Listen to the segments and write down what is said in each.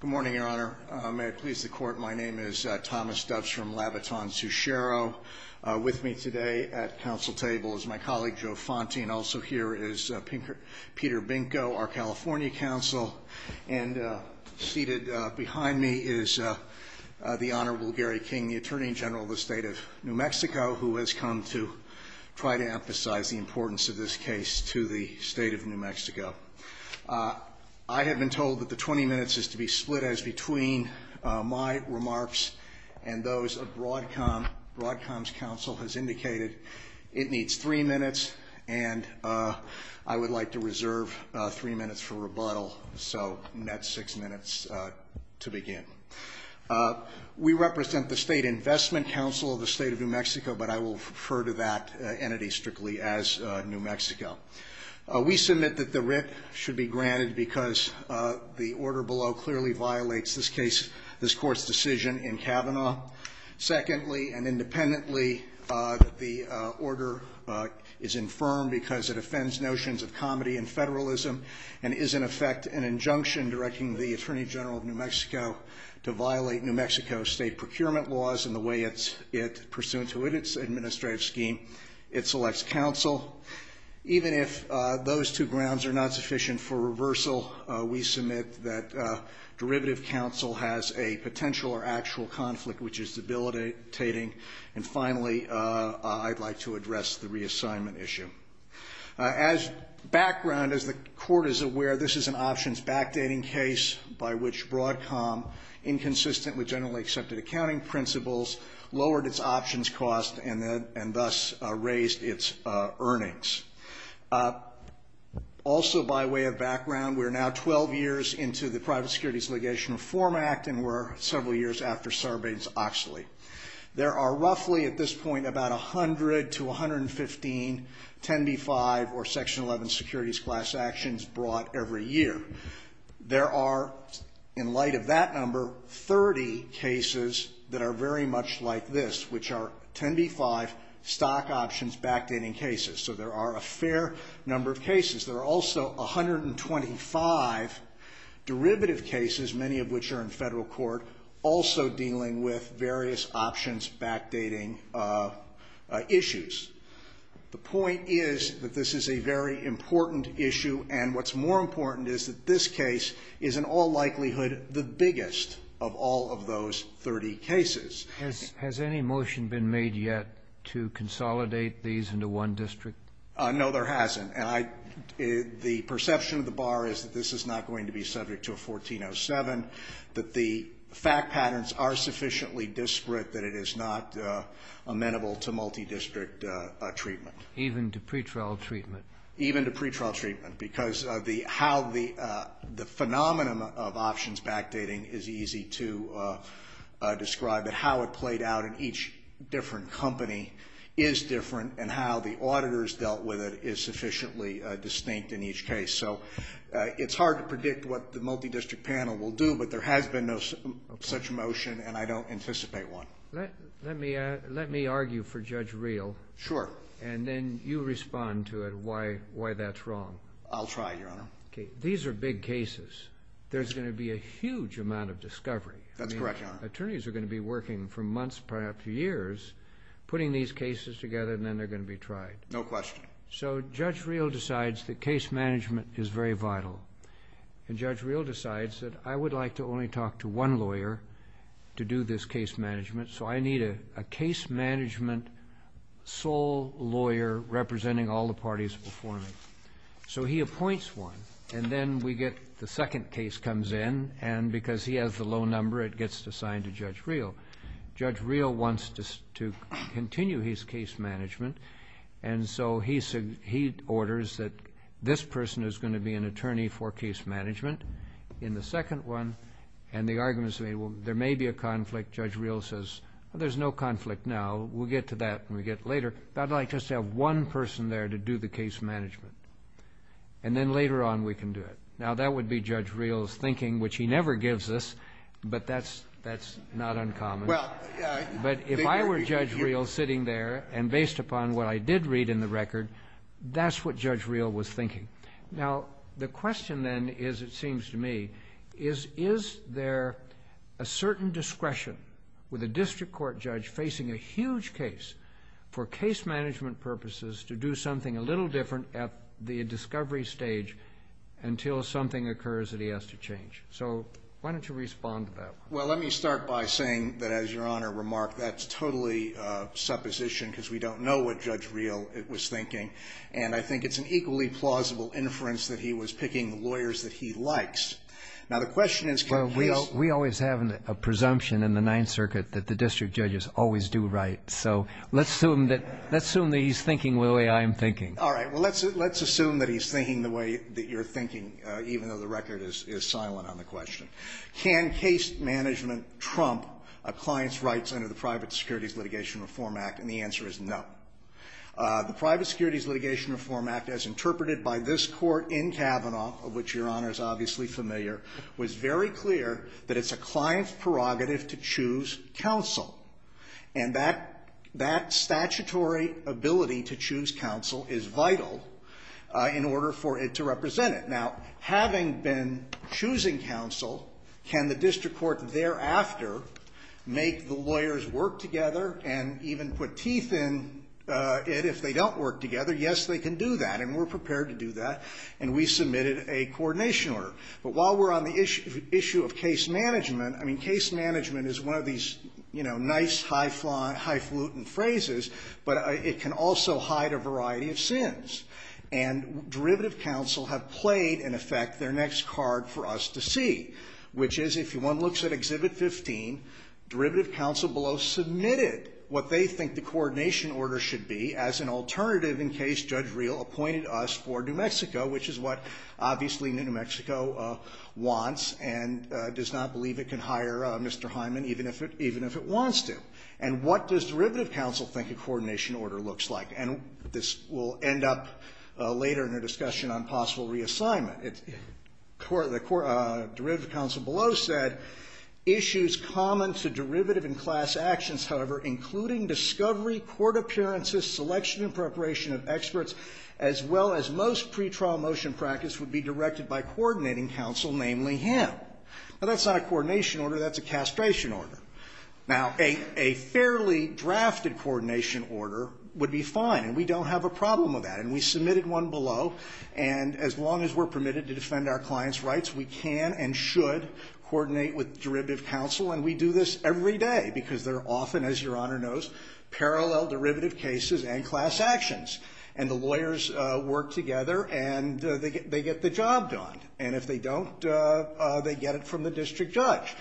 Good morning, Your Honor. May it please the Court, my name is Thomas Doves from Labatton-Suchero. With me today at council table is my colleague Joe Fonte and also here is Peter Binko, our California counsel. And seated behind me is the Honorable Gary King, the Attorney General of the State of New Mexico, who has come to try to emphasize the importance of this case to the state of New Mexico. I have been told that the 20 minutes is to be split as between my remarks and those of Broadcom. Broadcom's counsel has indicated it needs three minutes and I would like to reserve three minutes for rebuttal, so net six minutes to begin. We represent the State Investment Council of the State of New Mexico. I must admit that the writ should be granted because the order below clearly violates this case, this Court's decision in Kavanaugh. Secondly, and independently, the order is infirm because it offends notions of comedy and federalism and is in effect an injunction directing the Attorney General of New Mexico to violate New Mexico State procurement laws in the way it's, it, pursuant to its administrative scheme, it selects counsel. Even if those two grounds are not sufficient for reversal, we submit that derivative counsel has a potential or actual conflict which is debilitating. And finally, I'd like to address the reassignment issue. As background, as the Court is aware, this is an options backdating case by which Broadcom, inconsistent with generally accepted accounting principles, lowered its options cost and thus raised its costs. Also by way of background, we're now 12 years into the Private Securities Legation Reform Act and we're several years after Sarbanes-Oxley. There are roughly at this point about 100 to 115 10b-5 or Section 11 securities class actions brought every year. There are, in light of that number, 30 cases that are very much like this, which are 10b-5 stock options backdating cases. So there are a fair number of cases. There are also 125 derivative cases, many of which are in Federal court, also dealing with various options backdating issues. The point is that this is a very important issue and what's more important is that this case is in all likelihood the biggest of all of those 30 cases. Has any motion been made yet to consolidate these into one district? No, there hasn't. The perception of the Bar is that this is not going to be subject to a 1407, that the fact patterns are sufficiently disparate that it is not amenable to multi-district treatment. Even to pretrial treatment? Even to pretrial treatment, because of the how the the phenomenon of options backdating is easy to describe, that how it played out in each different company is different and how the auditors dealt with it is sufficiently distinct in each case. So it's hard to predict what the multi-district panel will do, but there has been no such motion and I don't anticipate one. Let me let me argue for Judge Riehl. Sure. And then you respond to it why why that's wrong. I'll try, Your There's going to be a huge amount of discovery. That's correct. Attorneys are going to be working for months, perhaps years, putting these cases together and then they're going to be tried. No question. So Judge Riehl decides that case management is very vital and Judge Riehl decides that I would like to only talk to one lawyer to do this case management, so I need a case management sole lawyer representing all the parties performing. So he appoints one and then we get the second case comes in and because he has the low number it gets assigned to Judge Riehl. Judge Riehl wants to continue his case management and so he said he orders that this person is going to be an attorney for case management in the second one and the argument is made well there may be a conflict. Judge Riehl says there's no conflict now, we'll get to that and we get later. I'd like just to have one person there to do the case management and then later on we can do it. Now that would be Judge Riehl's thinking, which he never gives us, but that's that's not uncommon. But if I were Judge Riehl sitting there and based upon what I did read in the record, that's what Judge Riehl was thinking. Now the question then is, it seems to me, is is there a certain discretion with a district court judge facing a huge case for case management purposes to do something a little different at the discovery stage until something occurs that he has to change? So why don't you respond to that? Well let me start by saying that as your Honor remarked, that's totally supposition because we don't know what Judge Riehl was thinking and I think it's an equally plausible inference that he was picking lawyers that he likes. Now the question is... Well we always have a presumption in the Ninth Circuit that the district judges always do right, so let's assume that he's thinking the way I'm thinking. All right, well let's assume that he's thinking the way that you're thinking, even though the record is silent on the question. Can case management trump a client's rights under the Private Securities Litigation Reform Act? And the answer is no. The Private Securities Litigation Reform Act, as interpreted by this Court in Kavanaugh, of which your Honor is obviously familiar, was very clear that it's a client's prerogative to choose counsel. And that statutory ability to choose counsel is vital in order for it to represent it. Now having been choosing counsel, can the district court thereafter make the lawyers work together and even put teeth in it if they don't work together? Yes they can do that and we're prepared to do that and we submitted a coordination order. But while we're on the issue of case management, I mean case management is one of these, you know, nice highfalutin phrases, but it can also hide a variety of sins. And derivative counsel have played, in effect, their next card for us to see, which is if one looks at Exhibit 15, derivative counsel below submitted what they think the coordination order should be as an alternative in case Judge Reel appointed us for New Mexico, which is what obviously New Mexico wants and does not believe it can hire Mr. Hyman even if it wants to. And what does derivative counsel think a coordination order looks like? And this will end up later in a discussion on possible reassignment. Derivative counsel below said, issues common to derivative and class actions, however, including discovery, court appearances, selection and preparation of experts, as well as most pre-trial motion practice would be directed by coordinating counsel, namely him. Now that's not a coordination order, that's a castration order. Now a fairly drafted coordination order would be fine and we don't have a problem with that and we submitted one below and as long as we're permitted to defend our client's rights, we can and should coordinate with derivative counsel and we do this every day because there are often, as your class actions and the lawyers work together and they get the job done and if they don't, they get it from the district judge.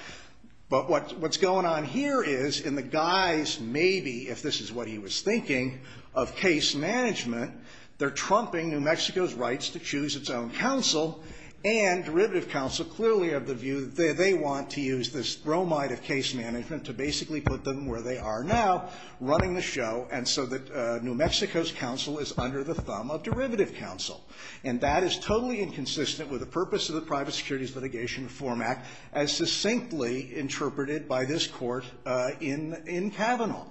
But what's going on here is in the guise maybe, if this is what he was thinking, of case management, they're trumping New Mexico's rights to choose its own counsel and derivative counsel clearly have the view that they want to use this bromide of case management to basically put them where they are now, running the show and so that New Mexico's counsel is under the thumb of derivative counsel and that is totally inconsistent with the purpose of the Private Securities Litigation Reform Act as succinctly interpreted by this court in Kavanaugh.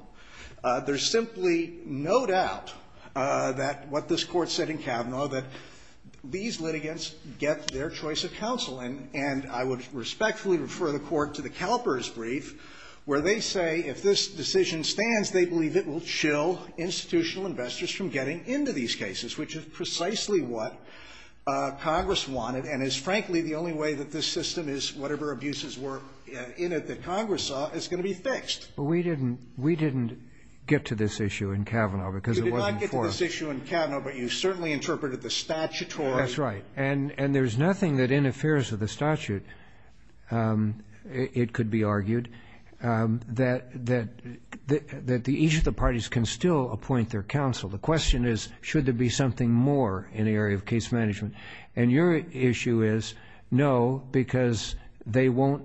There's simply no doubt that what this court said in Kavanaugh that these litigants get their choice of counsel and I would respectfully refer the court to the CalPERS brief where they say if this decision stands, they believe it will chill institutional investors from getting into these cases, which is precisely what Congress wanted and is frankly the only way that this system is, whatever abuses were in it that Congress saw, is going to be fixed. But we didn't get to this issue in Kavanaugh because it wasn't before. You did not get to this issue in Kavanaugh, but you certainly interpreted the statutory. That's right. And there's nothing that interferes with the statute, it could be argued, that each of the parties can still appoint their counsel. The question is, should there be something more in the area of case management? And your issue is, no, because they won't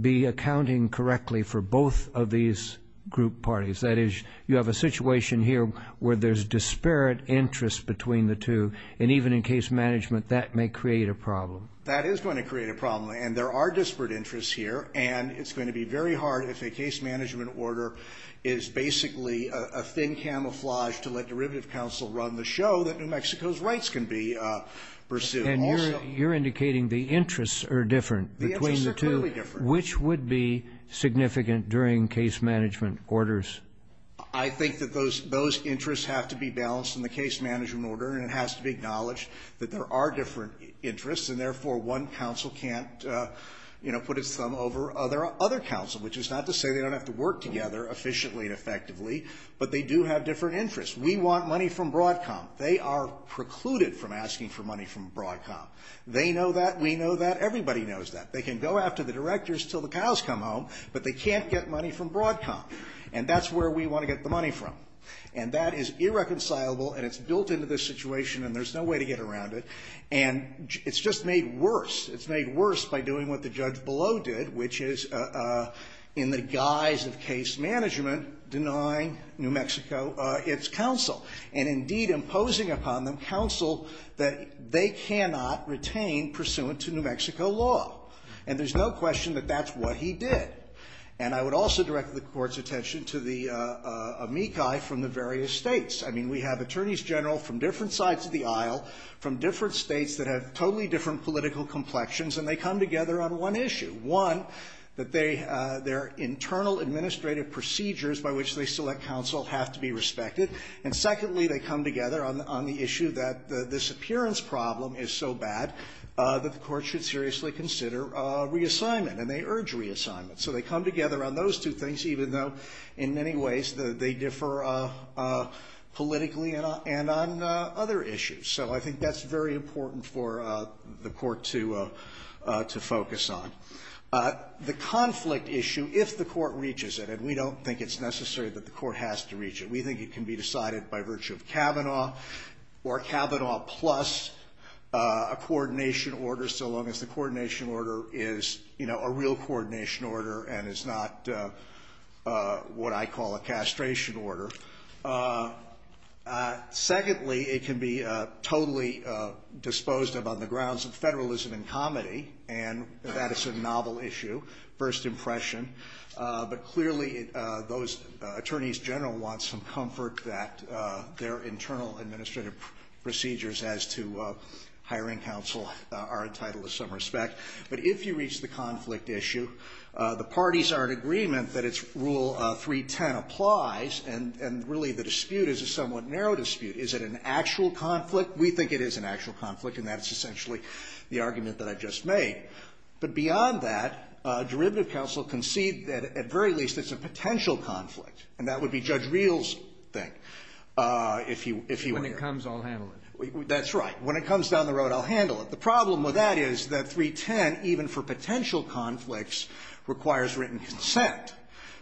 be accounting correctly for both of these group parties. That is, you have a situation here where there's disparate interests between the two and even in case management, that may create a problem. That is going to create a problem and there are disparate interests here and it's going to be very hard if a case management order is basically a thin camouflage to let derivative counsel run the show that New Mexico's rights can be pursued. And you're indicating the interests are different between the two. The interests are clearly different. Which would be significant during case management orders? I think that those interests have to be balanced in the case management order and it has to be acknowledged that there are different interests and therefore one counsel can't, you know, put its thumb over other counsel, which is not to say they don't have to work together efficiently and effectively, but they do have different interests. We want money from Broadcom. They are precluded from asking for money from Broadcom. They know that, we know that, everybody knows that. They can go after the directors until the cows come home, but they can't get money from Broadcom. And that's where we want to get the money from. And that is irreconcilable and it's built into this situation and there's no way to get around it. And it's just made worse. It's made worse by doing what the judge below did, which is, in the guise of case management, denying New Mexico its counsel and indeed imposing upon them counsel that they cannot retain pursuant to New Mexico law. And there's no question that that's what he did. And I would also direct the Court's attention to the amici from the various States. I mean, we have attorneys general from different sides of the aisle, from different States that have totally different political complexions, and they come together on one issue. One, that they, their internal administrative procedures by which they select counsel have to be respected. And secondly, they come together on the issue that this appearance problem is so bad that the Court should seriously consider reassignment, and they urge reassignment. So they come together on those two things, even though in many ways they differ politically and on other issues. So I think that's very important for the Court to focus on. The conflict issue, if the Court reaches it, and we don't think it's necessary that the Court has to reach it. We think it can be decided by virtue of Kavanaugh or Kavanaugh plus a coordination order, so long as the coordination order is, you know, a real coordination order and is not what I call a castration order. Secondly, it can be totally disposed of on the grounds of federalism and comedy, and that is a novel issue, first impression. But clearly those attorneys general want some comfort that their internal administrative procedures as to hiring counsel are entitled to some respect. But if you reach the conflict issue, the parties are in agreement that its Rule 310 applies, and really the dispute is a somewhat narrow dispute. Is it an actual conflict? We think it is an actual conflict, and that's essentially the argument that I just made. But beyond that, derivative counsel concede that at very least it's a potential conflict, and that would be Judge Reel's thing, if you were here. When it comes, I'll handle it. That's right. When it comes down the road, I'll handle it. The problem with that is that 310, even for potential conflicts, requires written consent,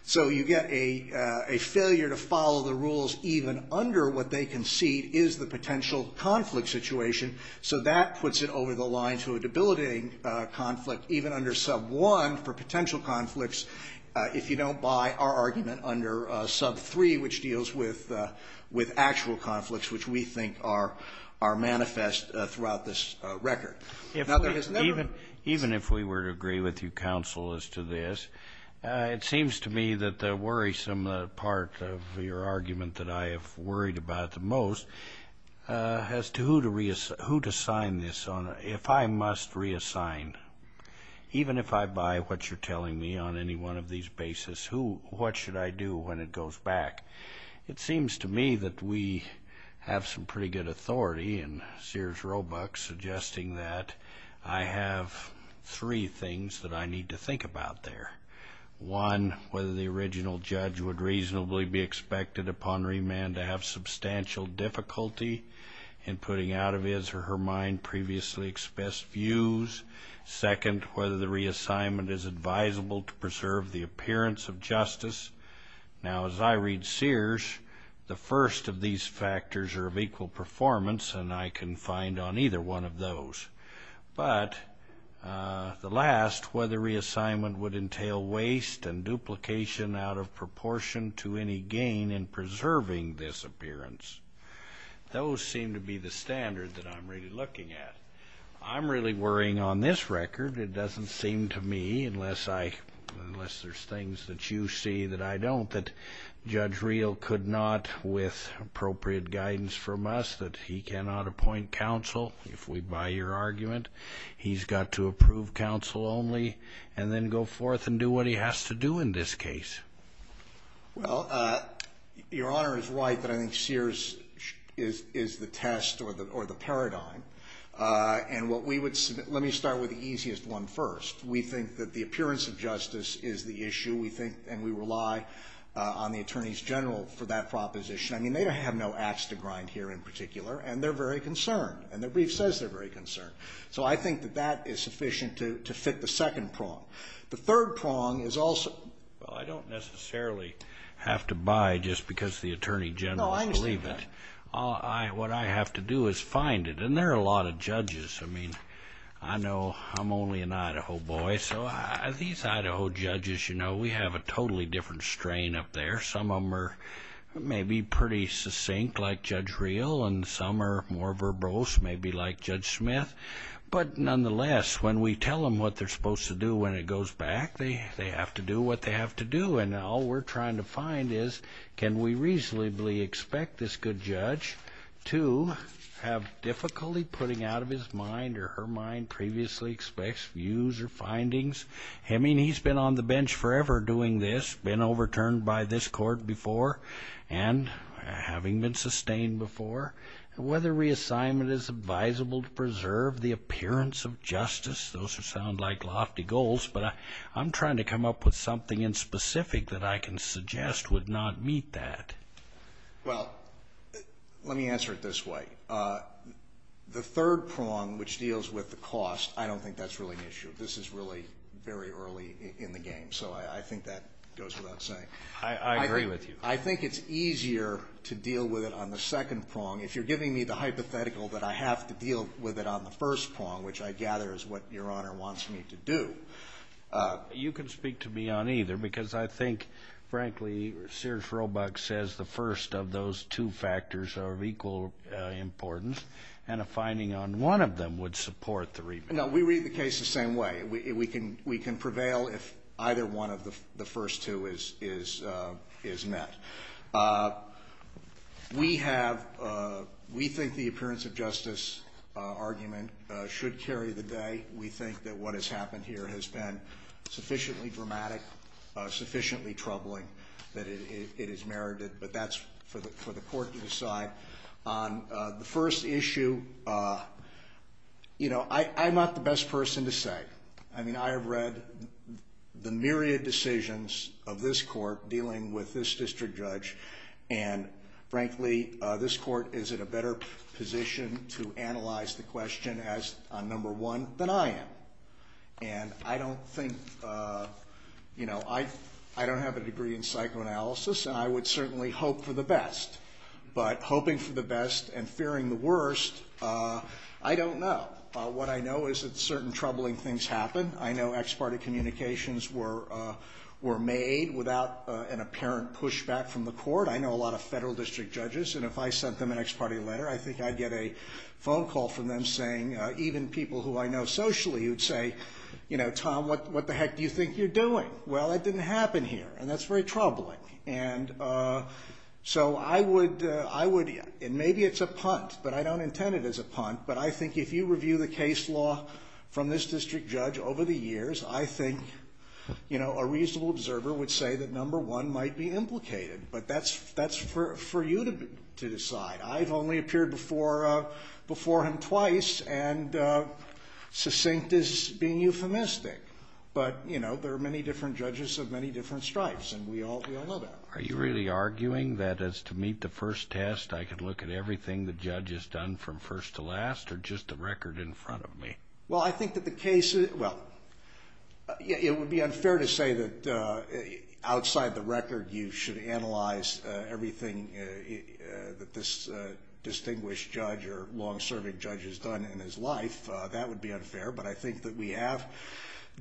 so you get a failure to follow the rules even under what they concede is the potential conflict situation, so that puts it over the line to a debilitating conflict even under Sub 1 for potential conflicts if you don't buy our argument under Sub 3, which deals with actual conflicts, which we think are manifest throughout this record. Now, there is another one. Even if we were to agree with you, counsel, as to this, it seems to me that the worrisome part of your argument that I have worried about the most as to who to reassign this on, if I must reassign, even if I buy what you're telling me on any one of these bases, what should I do when it goes back? It seems to me that we have some pretty good authority, and Sears Roebuck suggesting that I have three things that I need to think about there. One, whether the original judge would reasonably be expected upon remand to have previously expressed views. Second, whether the reassignment is advisable to preserve the appearance of justice. Now, as I read Sears, the first of these factors are of equal performance, and I can find on either one of those. But the last, whether reassignment would entail waste and duplication out of proportion to any gain in preserving this appearance. Those seem to be the standard that I'm really looking at. I'm really worrying on this record, it doesn't seem to me, unless there's things that you see that I don't, that Judge Reel could not, with appropriate guidance from us, that he cannot appoint counsel, if we buy your argument. He's got to approve counsel only, and then go forth and do what he has to do in this case. Well, Your Honor is right that I think Sears is the test or the paradigm. And what we would, let me start with the easiest one first. We think that the appearance of justice is the issue. We think, and we rely on the Attorneys General for that proposition. I mean, they don't have no ax to grind here in particular, and they're very concerned. And the brief says they're very concerned. So I think that that is sufficient to fit the second prong. The third prong is also... Well, I don't necessarily have to buy just because the Attorney General believes it. No, I understand that. What I have to do is find it. And there are a lot of judges. I mean, I know I'm only an Idaho boy, so these Idaho judges, you know, we have a totally different strain up there. Some of them are maybe pretty succinct like Judge Reel, and some are more verbose, maybe like Judge Smith. But nonetheless, when we tell them what they're supposed to do when it goes back, they have to do what they have to do. And all we're trying to find is can we reasonably expect this good judge to have difficulty putting out of his mind or her mind previously expected views or findings. I mean, he's been on the bench forever doing this, been overturned by this court before and having been sustained before. Whether reassignment is advisable to preserve the appearance of justice, those sound like lofty goals, but I'm trying to come up with something in specific that I can suggest would not meet that. Well, let me answer it this way. The third prong, which deals with the cost, I don't think that's really an issue. This is really very early in the game, so I think that goes without saying. I agree with you. I think it's easier to deal with it on the second prong, if you're giving me the hypothetical that I have to deal with it on the first prong, which I gather is what Your Honor wants me to do. You can speak to me on either, because I think, frankly, Sears-Robach says the first of those two factors are of equal importance, and a finding on one of them would support the review. No, we read the case the same way. We can prevail if either one of the first two is met. We think the appearance of justice argument should carry the day. We think that what has happened here has been sufficiently dramatic, sufficiently troubling that it is merited, but that's for the court to decide. The first issue, you know, I'm not the best person to say. I mean, I have read the myriad decisions of this court dealing with this district judge, and, frankly, this court is in a better position to analyze the question on number one than I am. And I don't think, you know, I don't have a degree in psychoanalysis, and I would certainly hope for the best. But hoping for the best and fearing the worst, I don't know. What I know is that certain troubling things happen. I know ex parte communications were made without an apparent pushback from the court. I know a lot of federal district judges, and if I sent them an ex parte letter, I think I'd get a phone call from them saying, even people who I know socially, who'd say, you know, Tom, what the heck do you think you're doing? Well, that didn't happen here, and that's very troubling. And so I would, and maybe it's a punt, but I don't intend it as a punt, but I think if you review the case law from this district judge over the years, I think, you know, a reasonable observer would say that number one might be implicated. But that's for you to decide. I've only appeared before him twice, and succinct is being euphemistic. But, you know, there are many different judges of many different stripes, and we all know that. Are you really arguing that as to meet the first test, I can look at everything the judge has done from first to last or just the record in front of me? Well, I think that the case, well, it would be unfair to say that outside the record, you should analyze everything that this distinguished judge or long-serving judge has done in his life. That would be unfair. But I think that we have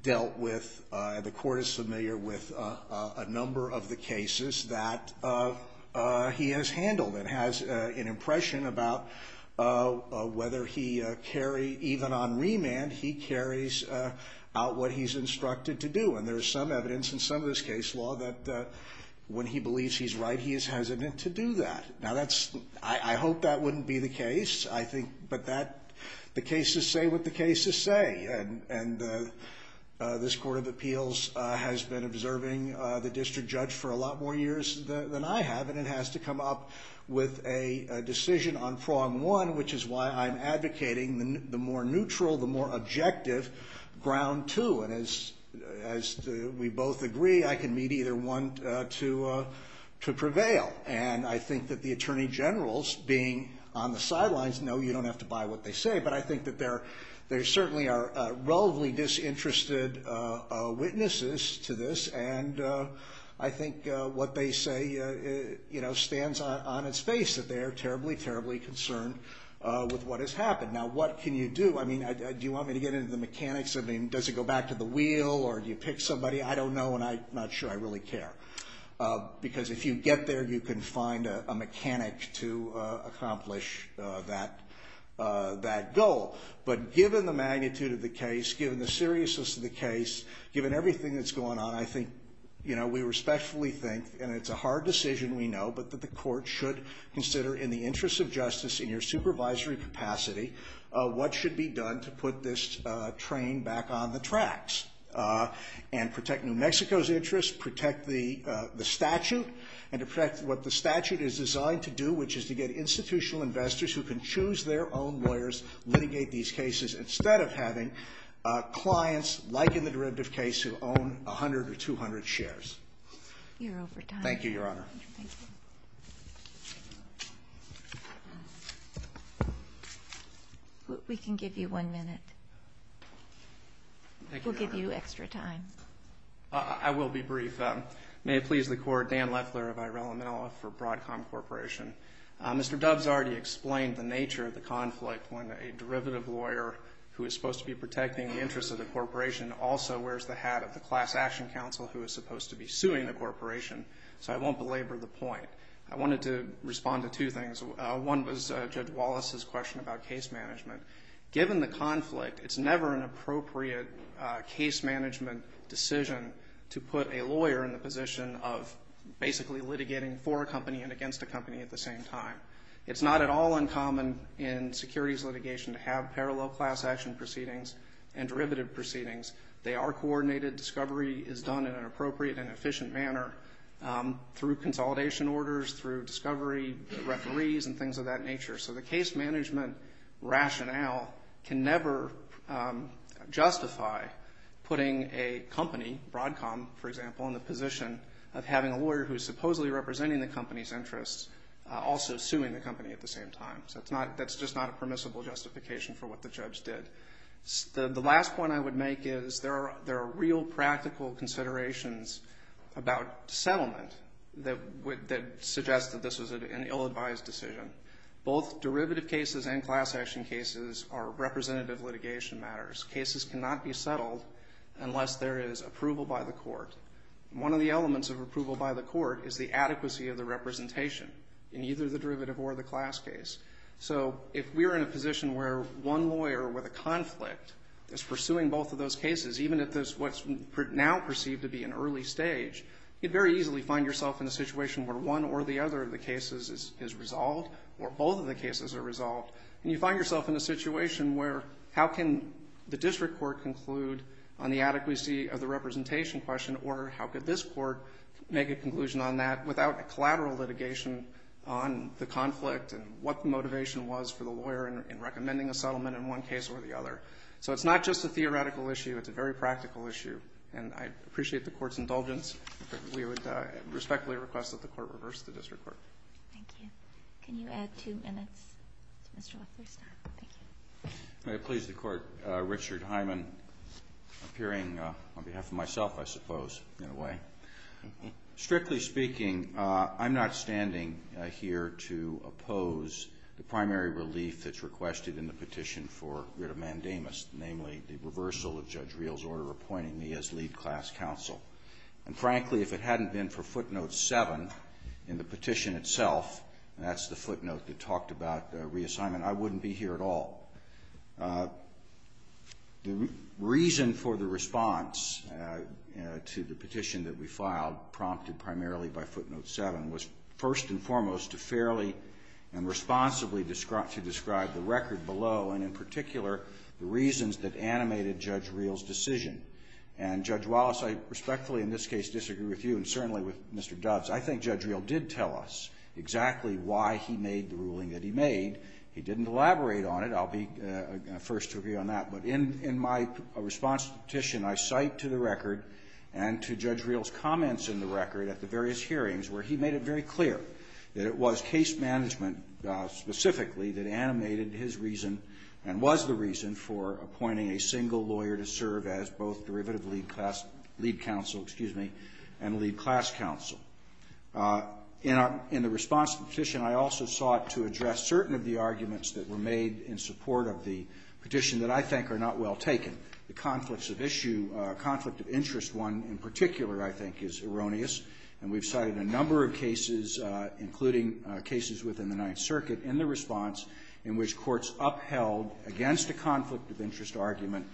dealt with, and the court is familiar with, a number of the cases that he has handled and has an impression about whether he carried, even on remand, he carries out what he's instructed to do. And there is some evidence in some of this case law that when he believes he's right, he is hesitant to do that. Now, I hope that wouldn't be the case. But the cases say what the cases say. And this Court of Appeals has been observing the district judge for a lot more years than I have, and it has to come up with a decision on prong one, which is why I'm advocating the more neutral, the more objective ground two. And as we both agree, I can meet either one to prevail. And I think that the attorney generals, being on the sidelines, know you don't have to buy what they say, but I think that there certainly are relatively disinterested witnesses to this. And I think what they say stands on its face, that they are terribly, terribly concerned with what has happened. Now, what can you do? I mean, do you want me to get into the mechanics of it? Does it go back to the wheel, or do you pick somebody? I don't know, and I'm not sure I really care. Because if you get there, you can find a mechanic to accomplish that goal. But given the magnitude of the case, given the seriousness of the case, given everything that's going on, I think, you know, we respectfully think, and it's a hard decision, we know, but that the court should consider in the interest of justice in your supervisory capacity what should be done to put this train back on the tracks and protect New Mexico's interests, protect the statute, and to protect what the statute is designed to do, which is to get institutional investors who can choose their own lawyers, litigate these cases, instead of having clients like in the derivative case who own 100 or 200 shares. You're over time. Thank you, Your Honor. We can give you one minute. Thank you, Your Honor. We'll give you extra time. I will be brief. May it please the Court, Dan Leffler of Irela Menola for Broadcom Corporation. Mr. Dove's already explained the nature of the conflict when a derivative lawyer who is supposed to be protecting the interests of the corporation also wears the hat of the class action counsel who is supposed to be suing the corporation, so I won't belabor the point. I wanted to respond to two things. One was Judge Wallace's question about case management. Given the conflict, it's never an appropriate case management decision to put a lawyer in the position of basically litigating for a company and against a company at the same time. It's not at all uncommon in securities litigation to have parallel class action proceedings and derivative proceedings. They are coordinated. Discovery is done in an appropriate and efficient manner through consolidation orders, through discovery, referees, and things of that nature. So the case management rationale can never justify putting a company, Broadcom, for example, in the position of having a lawyer who is supposedly representing the company's interests also suing the company at the same time. So that's just not a permissible justification for what the judge did. The last point I would make is there are real practical considerations about settlement that suggest that this was an ill-advised decision. Both derivative cases and class action cases are representative litigation matters. Cases cannot be settled unless there is approval by the court. One of the elements of approval by the court is the adequacy of the representation in either the derivative or the class case. So if we're in a position where one lawyer with a conflict is pursuing both of those cases, even if it's what's now perceived to be an early stage, you'd very easily find yourself in a situation where one or the other of the cases is resolved or both of the cases are resolved. And you find yourself in a situation where how can the district court conclude on the adequacy of the representation question or how could this court make a conclusion on that without a collateral litigation on the conflict and what the motivation was for the lawyer in recommending a settlement in one case or the other. So it's not just a theoretical issue. It's a very practical issue. And I appreciate the court's indulgence. We would respectfully request that the court reverse the district court. Thank you. Can you add two minutes to Mr. Leffler's time? Thank you. May it please the Court. Richard Hyman, appearing on behalf of myself, I suppose, in a way. Strictly speaking, I'm not standing here to oppose the primary relief that's requested in the petition for writ of mandamus, namely the reversal of Judge Reel's order appointing me as lead class counsel. And frankly, if it hadn't been for footnote 7 in the petition itself, and that's the footnote that talked about reassignment, I wouldn't be here at all. The reason for the response to the petition that we filed, prompted primarily by footnote 7, was first and foremost to fairly and responsibly describe the record below and in particular the reasons that animated Judge Reel's decision. And, Judge Wallace, I respectfully in this case disagree with you and certainly with Mr. Doves. I think Judge Reel did tell us exactly why he made the ruling that he made. He didn't elaborate on it. I'll be the first to agree on that. But in my response to the petition, I cite to the record and to Judge Reel's comments in the record at the various hearings where he made it very clear that it was case management specifically that animated his reason and was the reason for appointing a single lawyer to serve as both derivative lead counsel and lead class counsel. In the response to the petition, I also sought to address certain of the arguments that were made in support of the petition that I think are not well taken. The conflict of interest one in particular, I think, is erroneous. And we've cited a number of cases, including cases within the Ninth Circuit, in the response in which courts upheld against a conflict of interest argument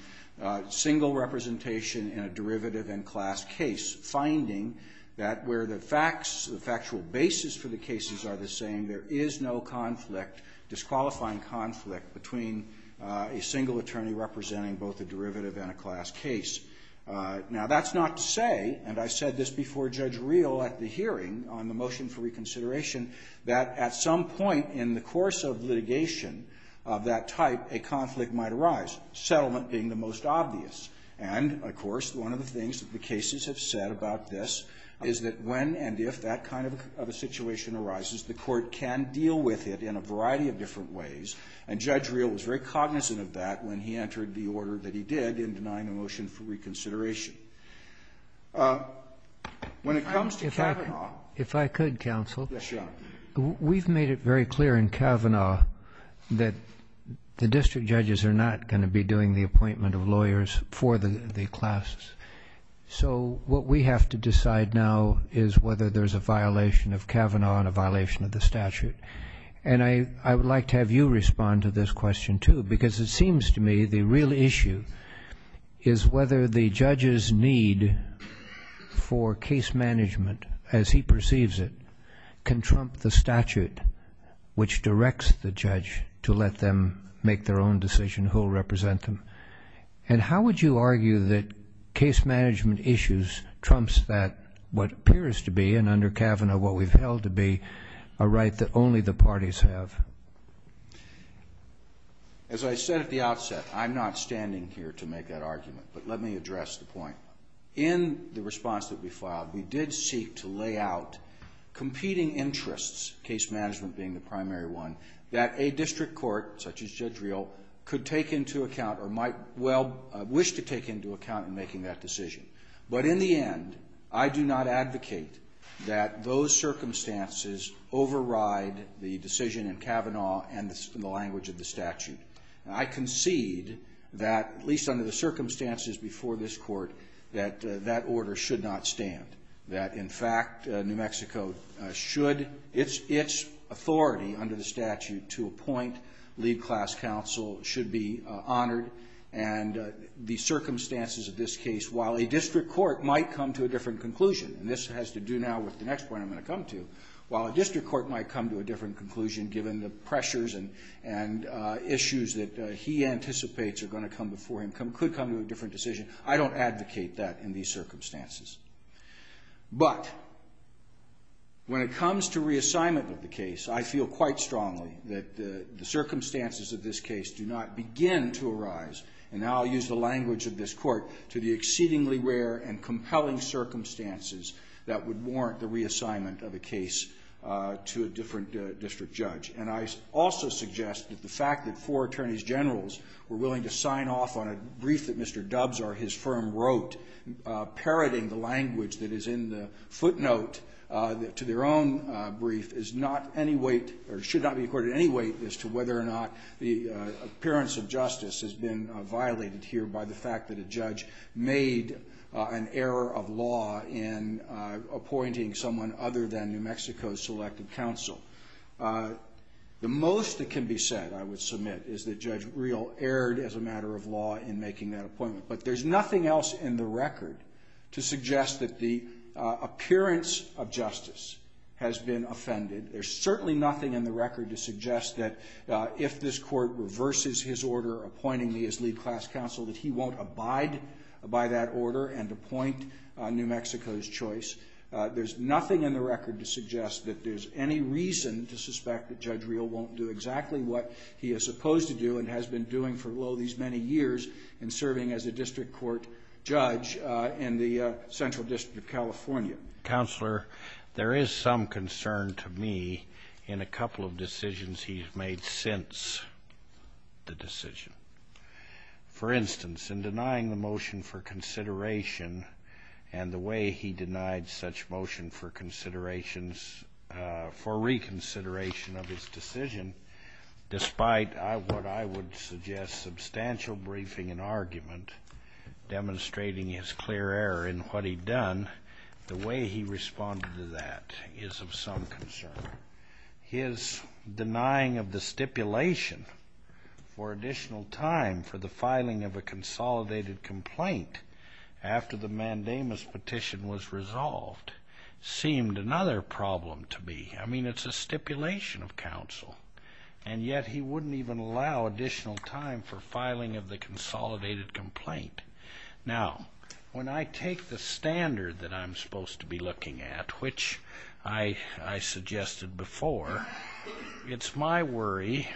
single representation in a derivative and class case, finding that where the facts, the factual basis for the cases are the same, there is no conflict, disqualifying conflict, between a single attorney representing both a derivative and a class case. Now, that's not to say, and I said this before Judge Reel at the hearing on the motion for reconsideration, that at some point in the course of litigation of that type, a conflict might arise, settlement being the most obvious. And, of course, one of the things that the cases have said about this is that when and if that kind of a situation arises, the Court can deal with it in a variety of different ways. And Judge Reel was very cognizant of that when he entered the order that he did in denying the motion for reconsideration. When it comes to Kavanaugh ---- We've made it very clear in Kavanaugh that the district judges are not going to be doing the appointment of lawyers for the classes. So what we have to decide now is whether there's a violation of Kavanaugh and a violation of the statute. And I would like to have you respond to this question, too, because it seems to me the real issue is whether the judge's need for case management, as he perceives it, can trump the statute which directs the judge to let them make their own decision who will represent them. And how would you argue that case management issues trumps what appears to be, and under Kavanaugh what we've held to be, a right that only the parties have? As I said at the outset, I'm not standing here to make that argument, but let me address the point. In the response that we filed, we did seek to lay out competing interests, case management being the primary one, that a district court, such as Judge Reel, could take into account or might well wish to take into account in making that decision. But in the end, I do not advocate that those circumstances override the decision in Kavanaugh and the language of the statute. I concede that, at least under the circumstances before this court, that that order should not stand, that, in fact, New Mexico should, its authority under the statute to appoint lead class counsel should be honored. And the circumstances of this case, while a district court might come to a different conclusion, and this has to do now with the next point I'm going to come to, while a district court might come to a different conclusion, given the pressures and issues that he anticipates are going to come before him, could come to a different decision, I don't advocate that in these circumstances. But when it comes to reassignment of the case, I feel quite strongly that the circumstances of this case do not begin to arise, and now I'll use the language of this court, to the exceedingly rare and compelling circumstances that would warrant the reassignment of a case to a different district judge. And I also suggest that the fact that four attorneys generals were willing to sign off on a brief that Mr. Dubs or his firm wrote, parroting the language that is in the footnote to their own brief, is not any weight, or should not be accorded any weight, as to whether or not the appearance of justice has been violated here by the fact that a judge made an error of law in appointing someone other than New Mexico's selected counsel. The most that can be said, I would submit, is that Judge Real erred as a matter of law in making that appointment. But there's nothing else in the record to suggest that the appearance of justice has been offended. There's certainly nothing in the record to suggest that if this court reverses his order appointing me as lead class counsel, that he won't abide by that order and appoint New Mexico's choice. There's nothing in the record to suggest that there's any reason to suspect that Judge Real won't do exactly what he is supposed to do and has been doing for, lo, these many years in serving as a district court judge in the Central District of California. Counselor, there is some concern to me in a couple of decisions he's made since the decision. For instance, in denying the motion for consideration and the way he denied such motion for reconsideration of his decision, despite what I would suggest substantial briefing and argument demonstrating his clear error in what he'd done, the way he responded to that is of some concern. His denying of the stipulation for additional time for the filing of a consolidated complaint after the mandamus petition was resolved seemed another problem to me. I mean, it's a stipulation of counsel, and yet he wouldn't even allow additional time for filing of the consolidated complaint. Now, when I take the standard that I'm supposed to be looking at, which I suggested before, it's my worry,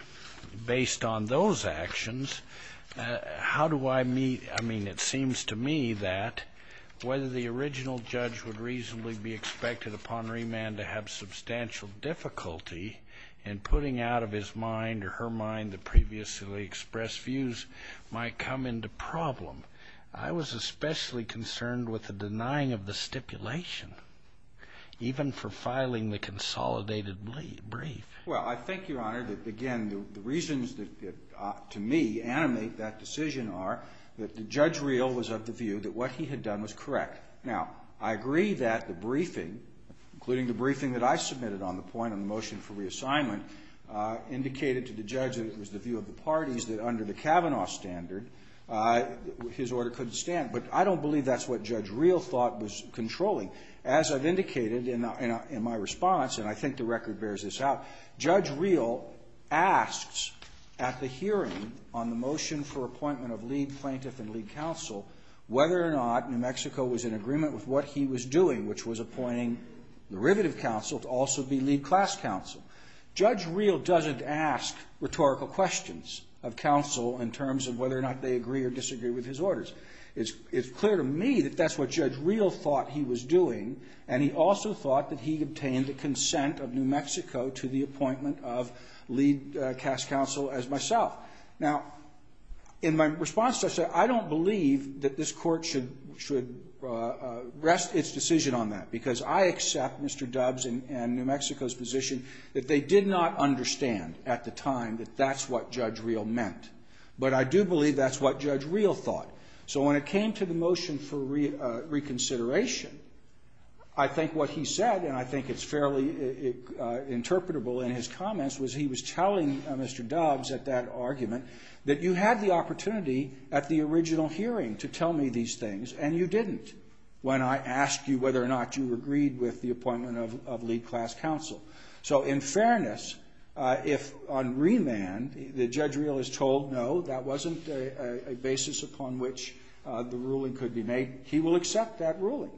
based on those actions, how do I meet, I mean, it seems to me that whether the original judge would reasonably be expected upon remand to have substantial difficulty in putting out of his mind or her mind the previously expressed views might come into problem. I was especially concerned with the denying of the stipulation, even for filing the consolidated brief. Well, I think, Your Honor, that, again, the reasons that, to me, animate that decision are that the judge real was of the view that what he had done was correct. Now, I agree that the briefing, including the briefing that I submitted on the point on the motion for reassignment, indicated to the judge that it was the view of the parties that under the Kavanaugh standard, his order couldn't stand. But I don't believe that's what Judge Reel thought was controlling. As I've indicated in my response, and I think the record bears this out, Judge Reel asks at the hearing on the motion for appointment of lead plaintiff and lead counsel whether or not New Mexico was in agreement with what he was doing, which was appointing derivative counsel to also be lead class counsel. Judge Reel doesn't ask rhetorical questions of counsel in terms of whether or not they agree or disagree with his orders. It's clear to me that that's what Judge Reel thought he was doing, and he also thought that he obtained the consent of New Mexico to the appointment of lead class counsel as myself. Now, in my response to that, I don't believe that this Court should rest its decision on that because I accept Mr. Dubbs and New Mexico's position that they did not understand at the time that that's what Judge Reel meant. But I do believe that's what Judge Reel thought. So when it came to the motion for reconsideration, I think what he said, and I think it's fairly interpretable in his comments, was he was telling Mr. Dubbs at that argument that you had the opportunity at the original hearing to tell me these things, and you didn't when I asked you whether or not you agreed with the appointment of lead class counsel. So in fairness, if on remand the Judge Reel is told, no, that wasn't a basis upon which the ruling could be made, he will accept that ruling.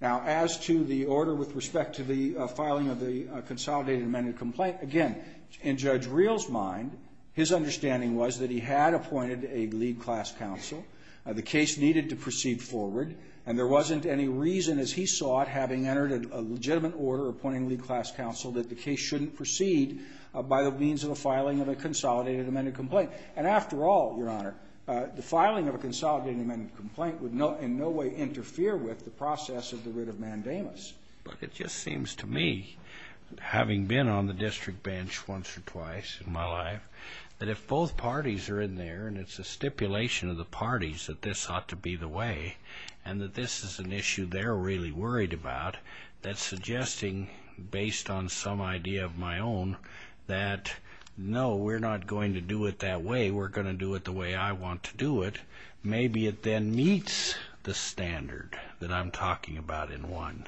Now, as to the order with respect to the filing of the consolidated amended complaint, again, in Judge Reel's mind, his understanding was that he had appointed a lead class counsel. The case needed to proceed forward, and there wasn't any reason, as he saw it, having entered a legitimate order appointing lead class counsel that the case shouldn't proceed by the means of the filing of a consolidated amended complaint. And after all, Your Honor, the filing of a consolidated amended complaint would in no way interfere with the process of the writ of mandamus. But it just seems to me, having been on the district bench once or twice in my life, that if both parties are in there and it's a stipulation of the parties that this ought to be the way and that this is an issue they're really worried about, that suggesting, based on some idea of my own, that no, we're not going to do it that way, we're going to do it the way I want to do it, maybe it then meets the standard that I'm talking about in one.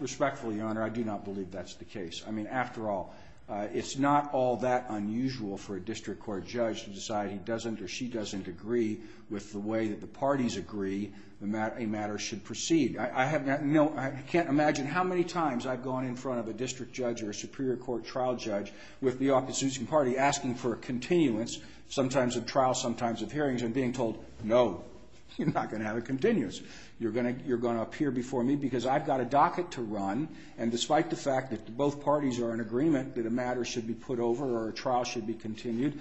Respectfully, Your Honor, I do not believe that's the case. I mean, after all, it's not all that unusual for a district court judge to decide he doesn't or she doesn't agree with the way that the parties agree a matter should proceed. I can't imagine how many times I've gone in front of a district judge or a superior court trial judge with the opposition party asking for a continuance, sometimes of trial, sometimes of hearings, and being told, no, you're not going to have a continuance. You're going to appear before me because I've got a docket to run, and despite the fact that both parties are in agreement that a matter should be put over or a trial should be continued,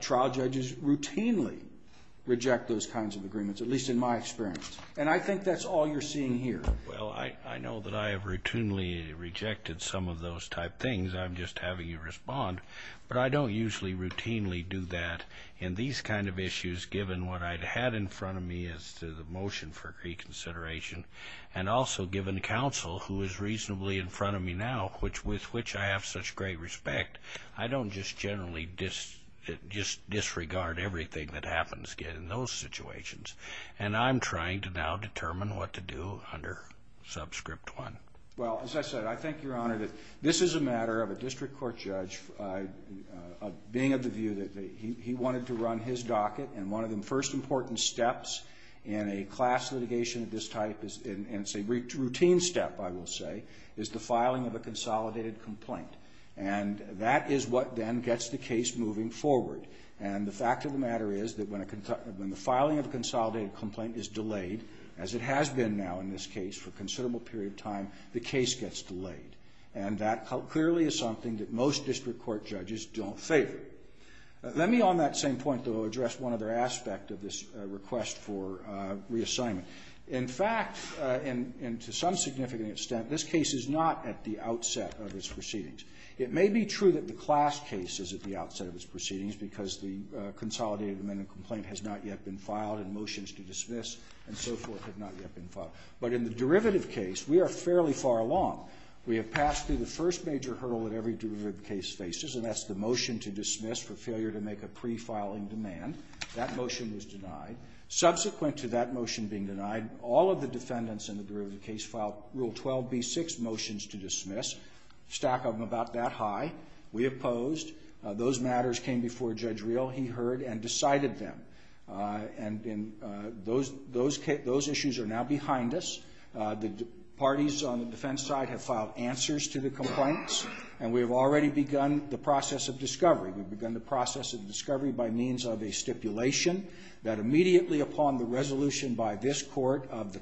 trial judges routinely reject those kinds of agreements, at least in my experience. And I think that's all you're seeing here. Well, I know that I have routinely rejected some of those type things. I'm just having you respond. But I don't usually routinely do that in these kind of issues, given what I've had in front of me as to the motion for reconsideration and also given counsel, who is reasonably in front of me now, with which I have such great respect, I don't just generally disregard everything that happens in those situations. And I'm trying to now determine what to do under subscript 1. Well, as I said, I think, Your Honor, that this is a matter of a district court judge being of the view that he wanted to run his docket, and one of the first important steps in a class litigation of this type, and it's a routine step, I will say, is the filing of a consolidated complaint. And that is what then gets the case moving forward. And the fact of the matter is that when the filing of a consolidated complaint is delayed, as it has been now in this case for a considerable period of time, the case gets delayed. And that clearly is something that most district court judges don't favor. Let me on that same point, though, address one other aspect of this request for reassignment. In fact, and to some significant extent, this case is not at the outset of its proceedings. It may be true that the class case is at the outset of its proceedings because the consolidated amendment complaint has not yet been filed and motions to dismiss and so forth have not yet been filed. But in the derivative case, we are fairly far along. We have passed through the first major hurdle that every derivative case faces, and that's the motion to dismiss for failure to make a pre-filing demand. That motion was denied. Subsequent to that motion being denied, all of the defendants in the derivative case filed Rule 12b-6 motions to dismiss, a stack of them about that high. We opposed. Those matters came before Judge Reel. He heard and decided them. And those issues are now behind us. The parties on the defense side have filed answers to the complaints, and we have already begun the process of discovery. We've begun the process of discovery by means of a stipulation that immediately upon the resolution by this court of the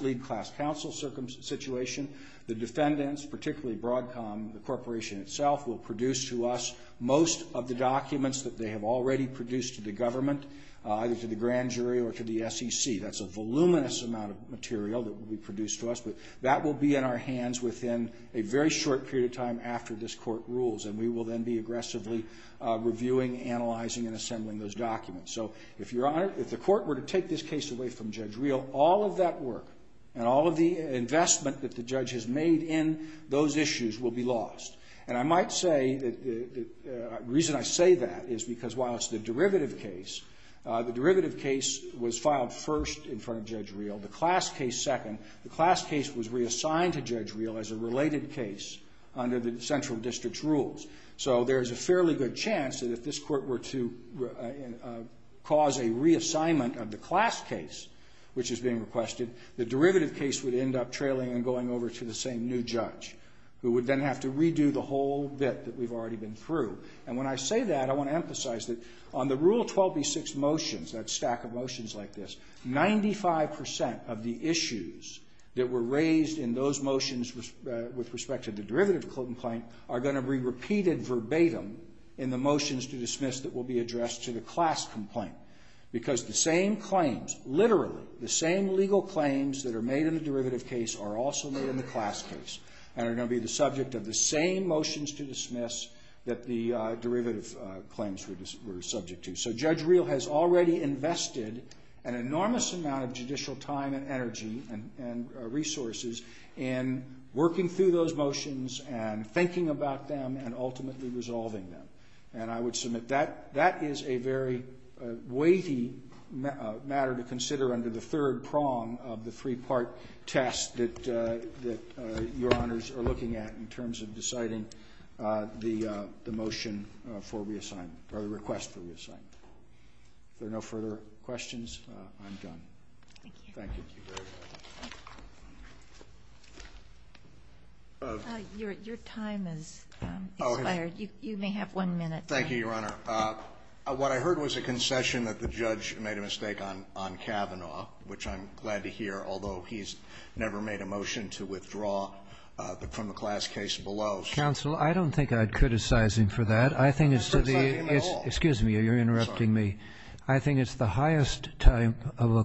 lead class counsel situation, the defendants, particularly Broadcom, the corporation itself, will produce to us most of the documents that they have already produced to the government, either to the grand jury or to the SEC. That's a voluminous amount of material that will be produced to us, but that will be in our hands within a very short period of time after this court rules, and we will then be aggressively reviewing, analyzing, and assembling those documents. So if the court were to take this case away from Judge Reel, all of that work and all of the investment that the judge has made in those issues will be lost. And I might say that the reason I say that is because while it's the derivative case, the derivative case was filed first in front of Judge Reel, the class case second. The class case was reassigned to Judge Reel as a related case under the central district's rules. So there's a fairly good chance that if this court were to cause a reassignment of the class case, which is being requested, the derivative case would end up trailing and going over to the same new judge, who would then have to redo the whole bit that we've already been through. And when I say that, I want to emphasize that on the Rule 12b-6 motions, that stack of motions like this, 95% of the issues that were raised in those motions with respect to the derivative complaint are going to be repeated verbatim in the motions to dismiss that will be addressed to the class complaint, because the same claims, literally, the same legal claims that are made in the derivative case are also made in the class case and are going to be the subject of the same motions to dismiss that the derivative claims were subject to. So Judge Reel has already invested an enormous amount of judicial time and energy and resources in working through those motions and thinking about them and ultimately resolving them. And I would submit that that is a very weighty matter to consider under the third prong of the three-part test that your honors are looking at in terms of deciding the motion for reassignment, or the request for reassignment. If there are no further questions, I'm done. Thank you. Your time has expired. You may have one minute. Thank you, Your Honor. What I heard was a concession that the judge made a mistake on Kavanaugh, which I'm glad to hear, although he's never made a motion to withdraw from the class case below. Counsel, I don't think I'd criticize him for that. I don't criticize him at all. Excuse me. You're interrupting me. I think it's the highest time of an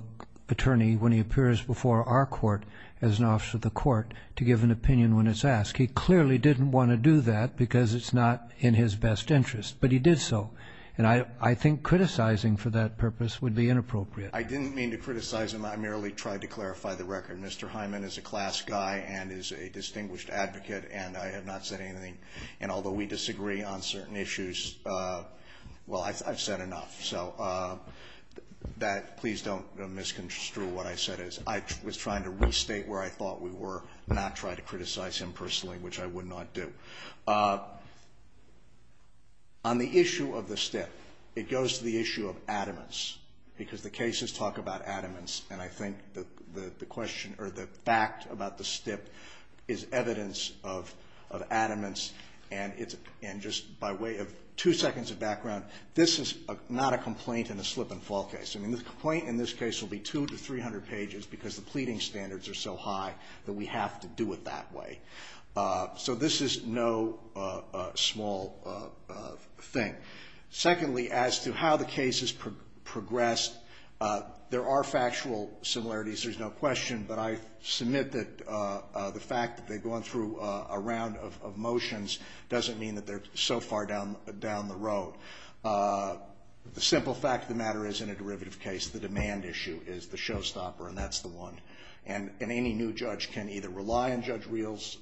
attorney when he appears before our court as an officer of the court to give an opinion when it's asked. He clearly didn't want to do that because it's not in his best interest, but he did so. And I think criticizing for that purpose would be inappropriate. I didn't mean to criticize him. I merely tried to clarify the record. Mr. Hyman is a class guy and is a distinguished advocate, and I have not said anything. And although we disagree on certain issues, well, I've said enough. So please don't misconstrue what I said. I was trying to restate where I thought we were and not try to criticize him personally, which I would not do. On the issue of the stip, it goes to the issue of adamance because the cases talk about adamance, and I think the question or the fact about the stip is evidence of adamance. And just by way of two seconds of background, this is not a complaint in a slip-and-fall case. I mean, the complaint in this case will be 200 to 300 pages because the pleading standards are so high that we have to do it that way. So this is no small thing. Secondly, as to how the case has progressed, there are factual similarities. There's no question, but I submit that the fact that they've gone through a round of motions doesn't mean that they're so far down the road. The simple fact of the matter is, in a derivative case, the demand issue is the showstopper, and that's the one. And any new judge can either rely on Judge Reel's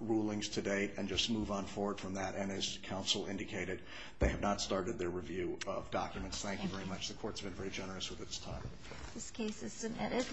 rulings to date and just move on forward from that, and as counsel indicated, they have not started their review of documents. Thank you very much. The court's been very generous with its time. This case is submitted.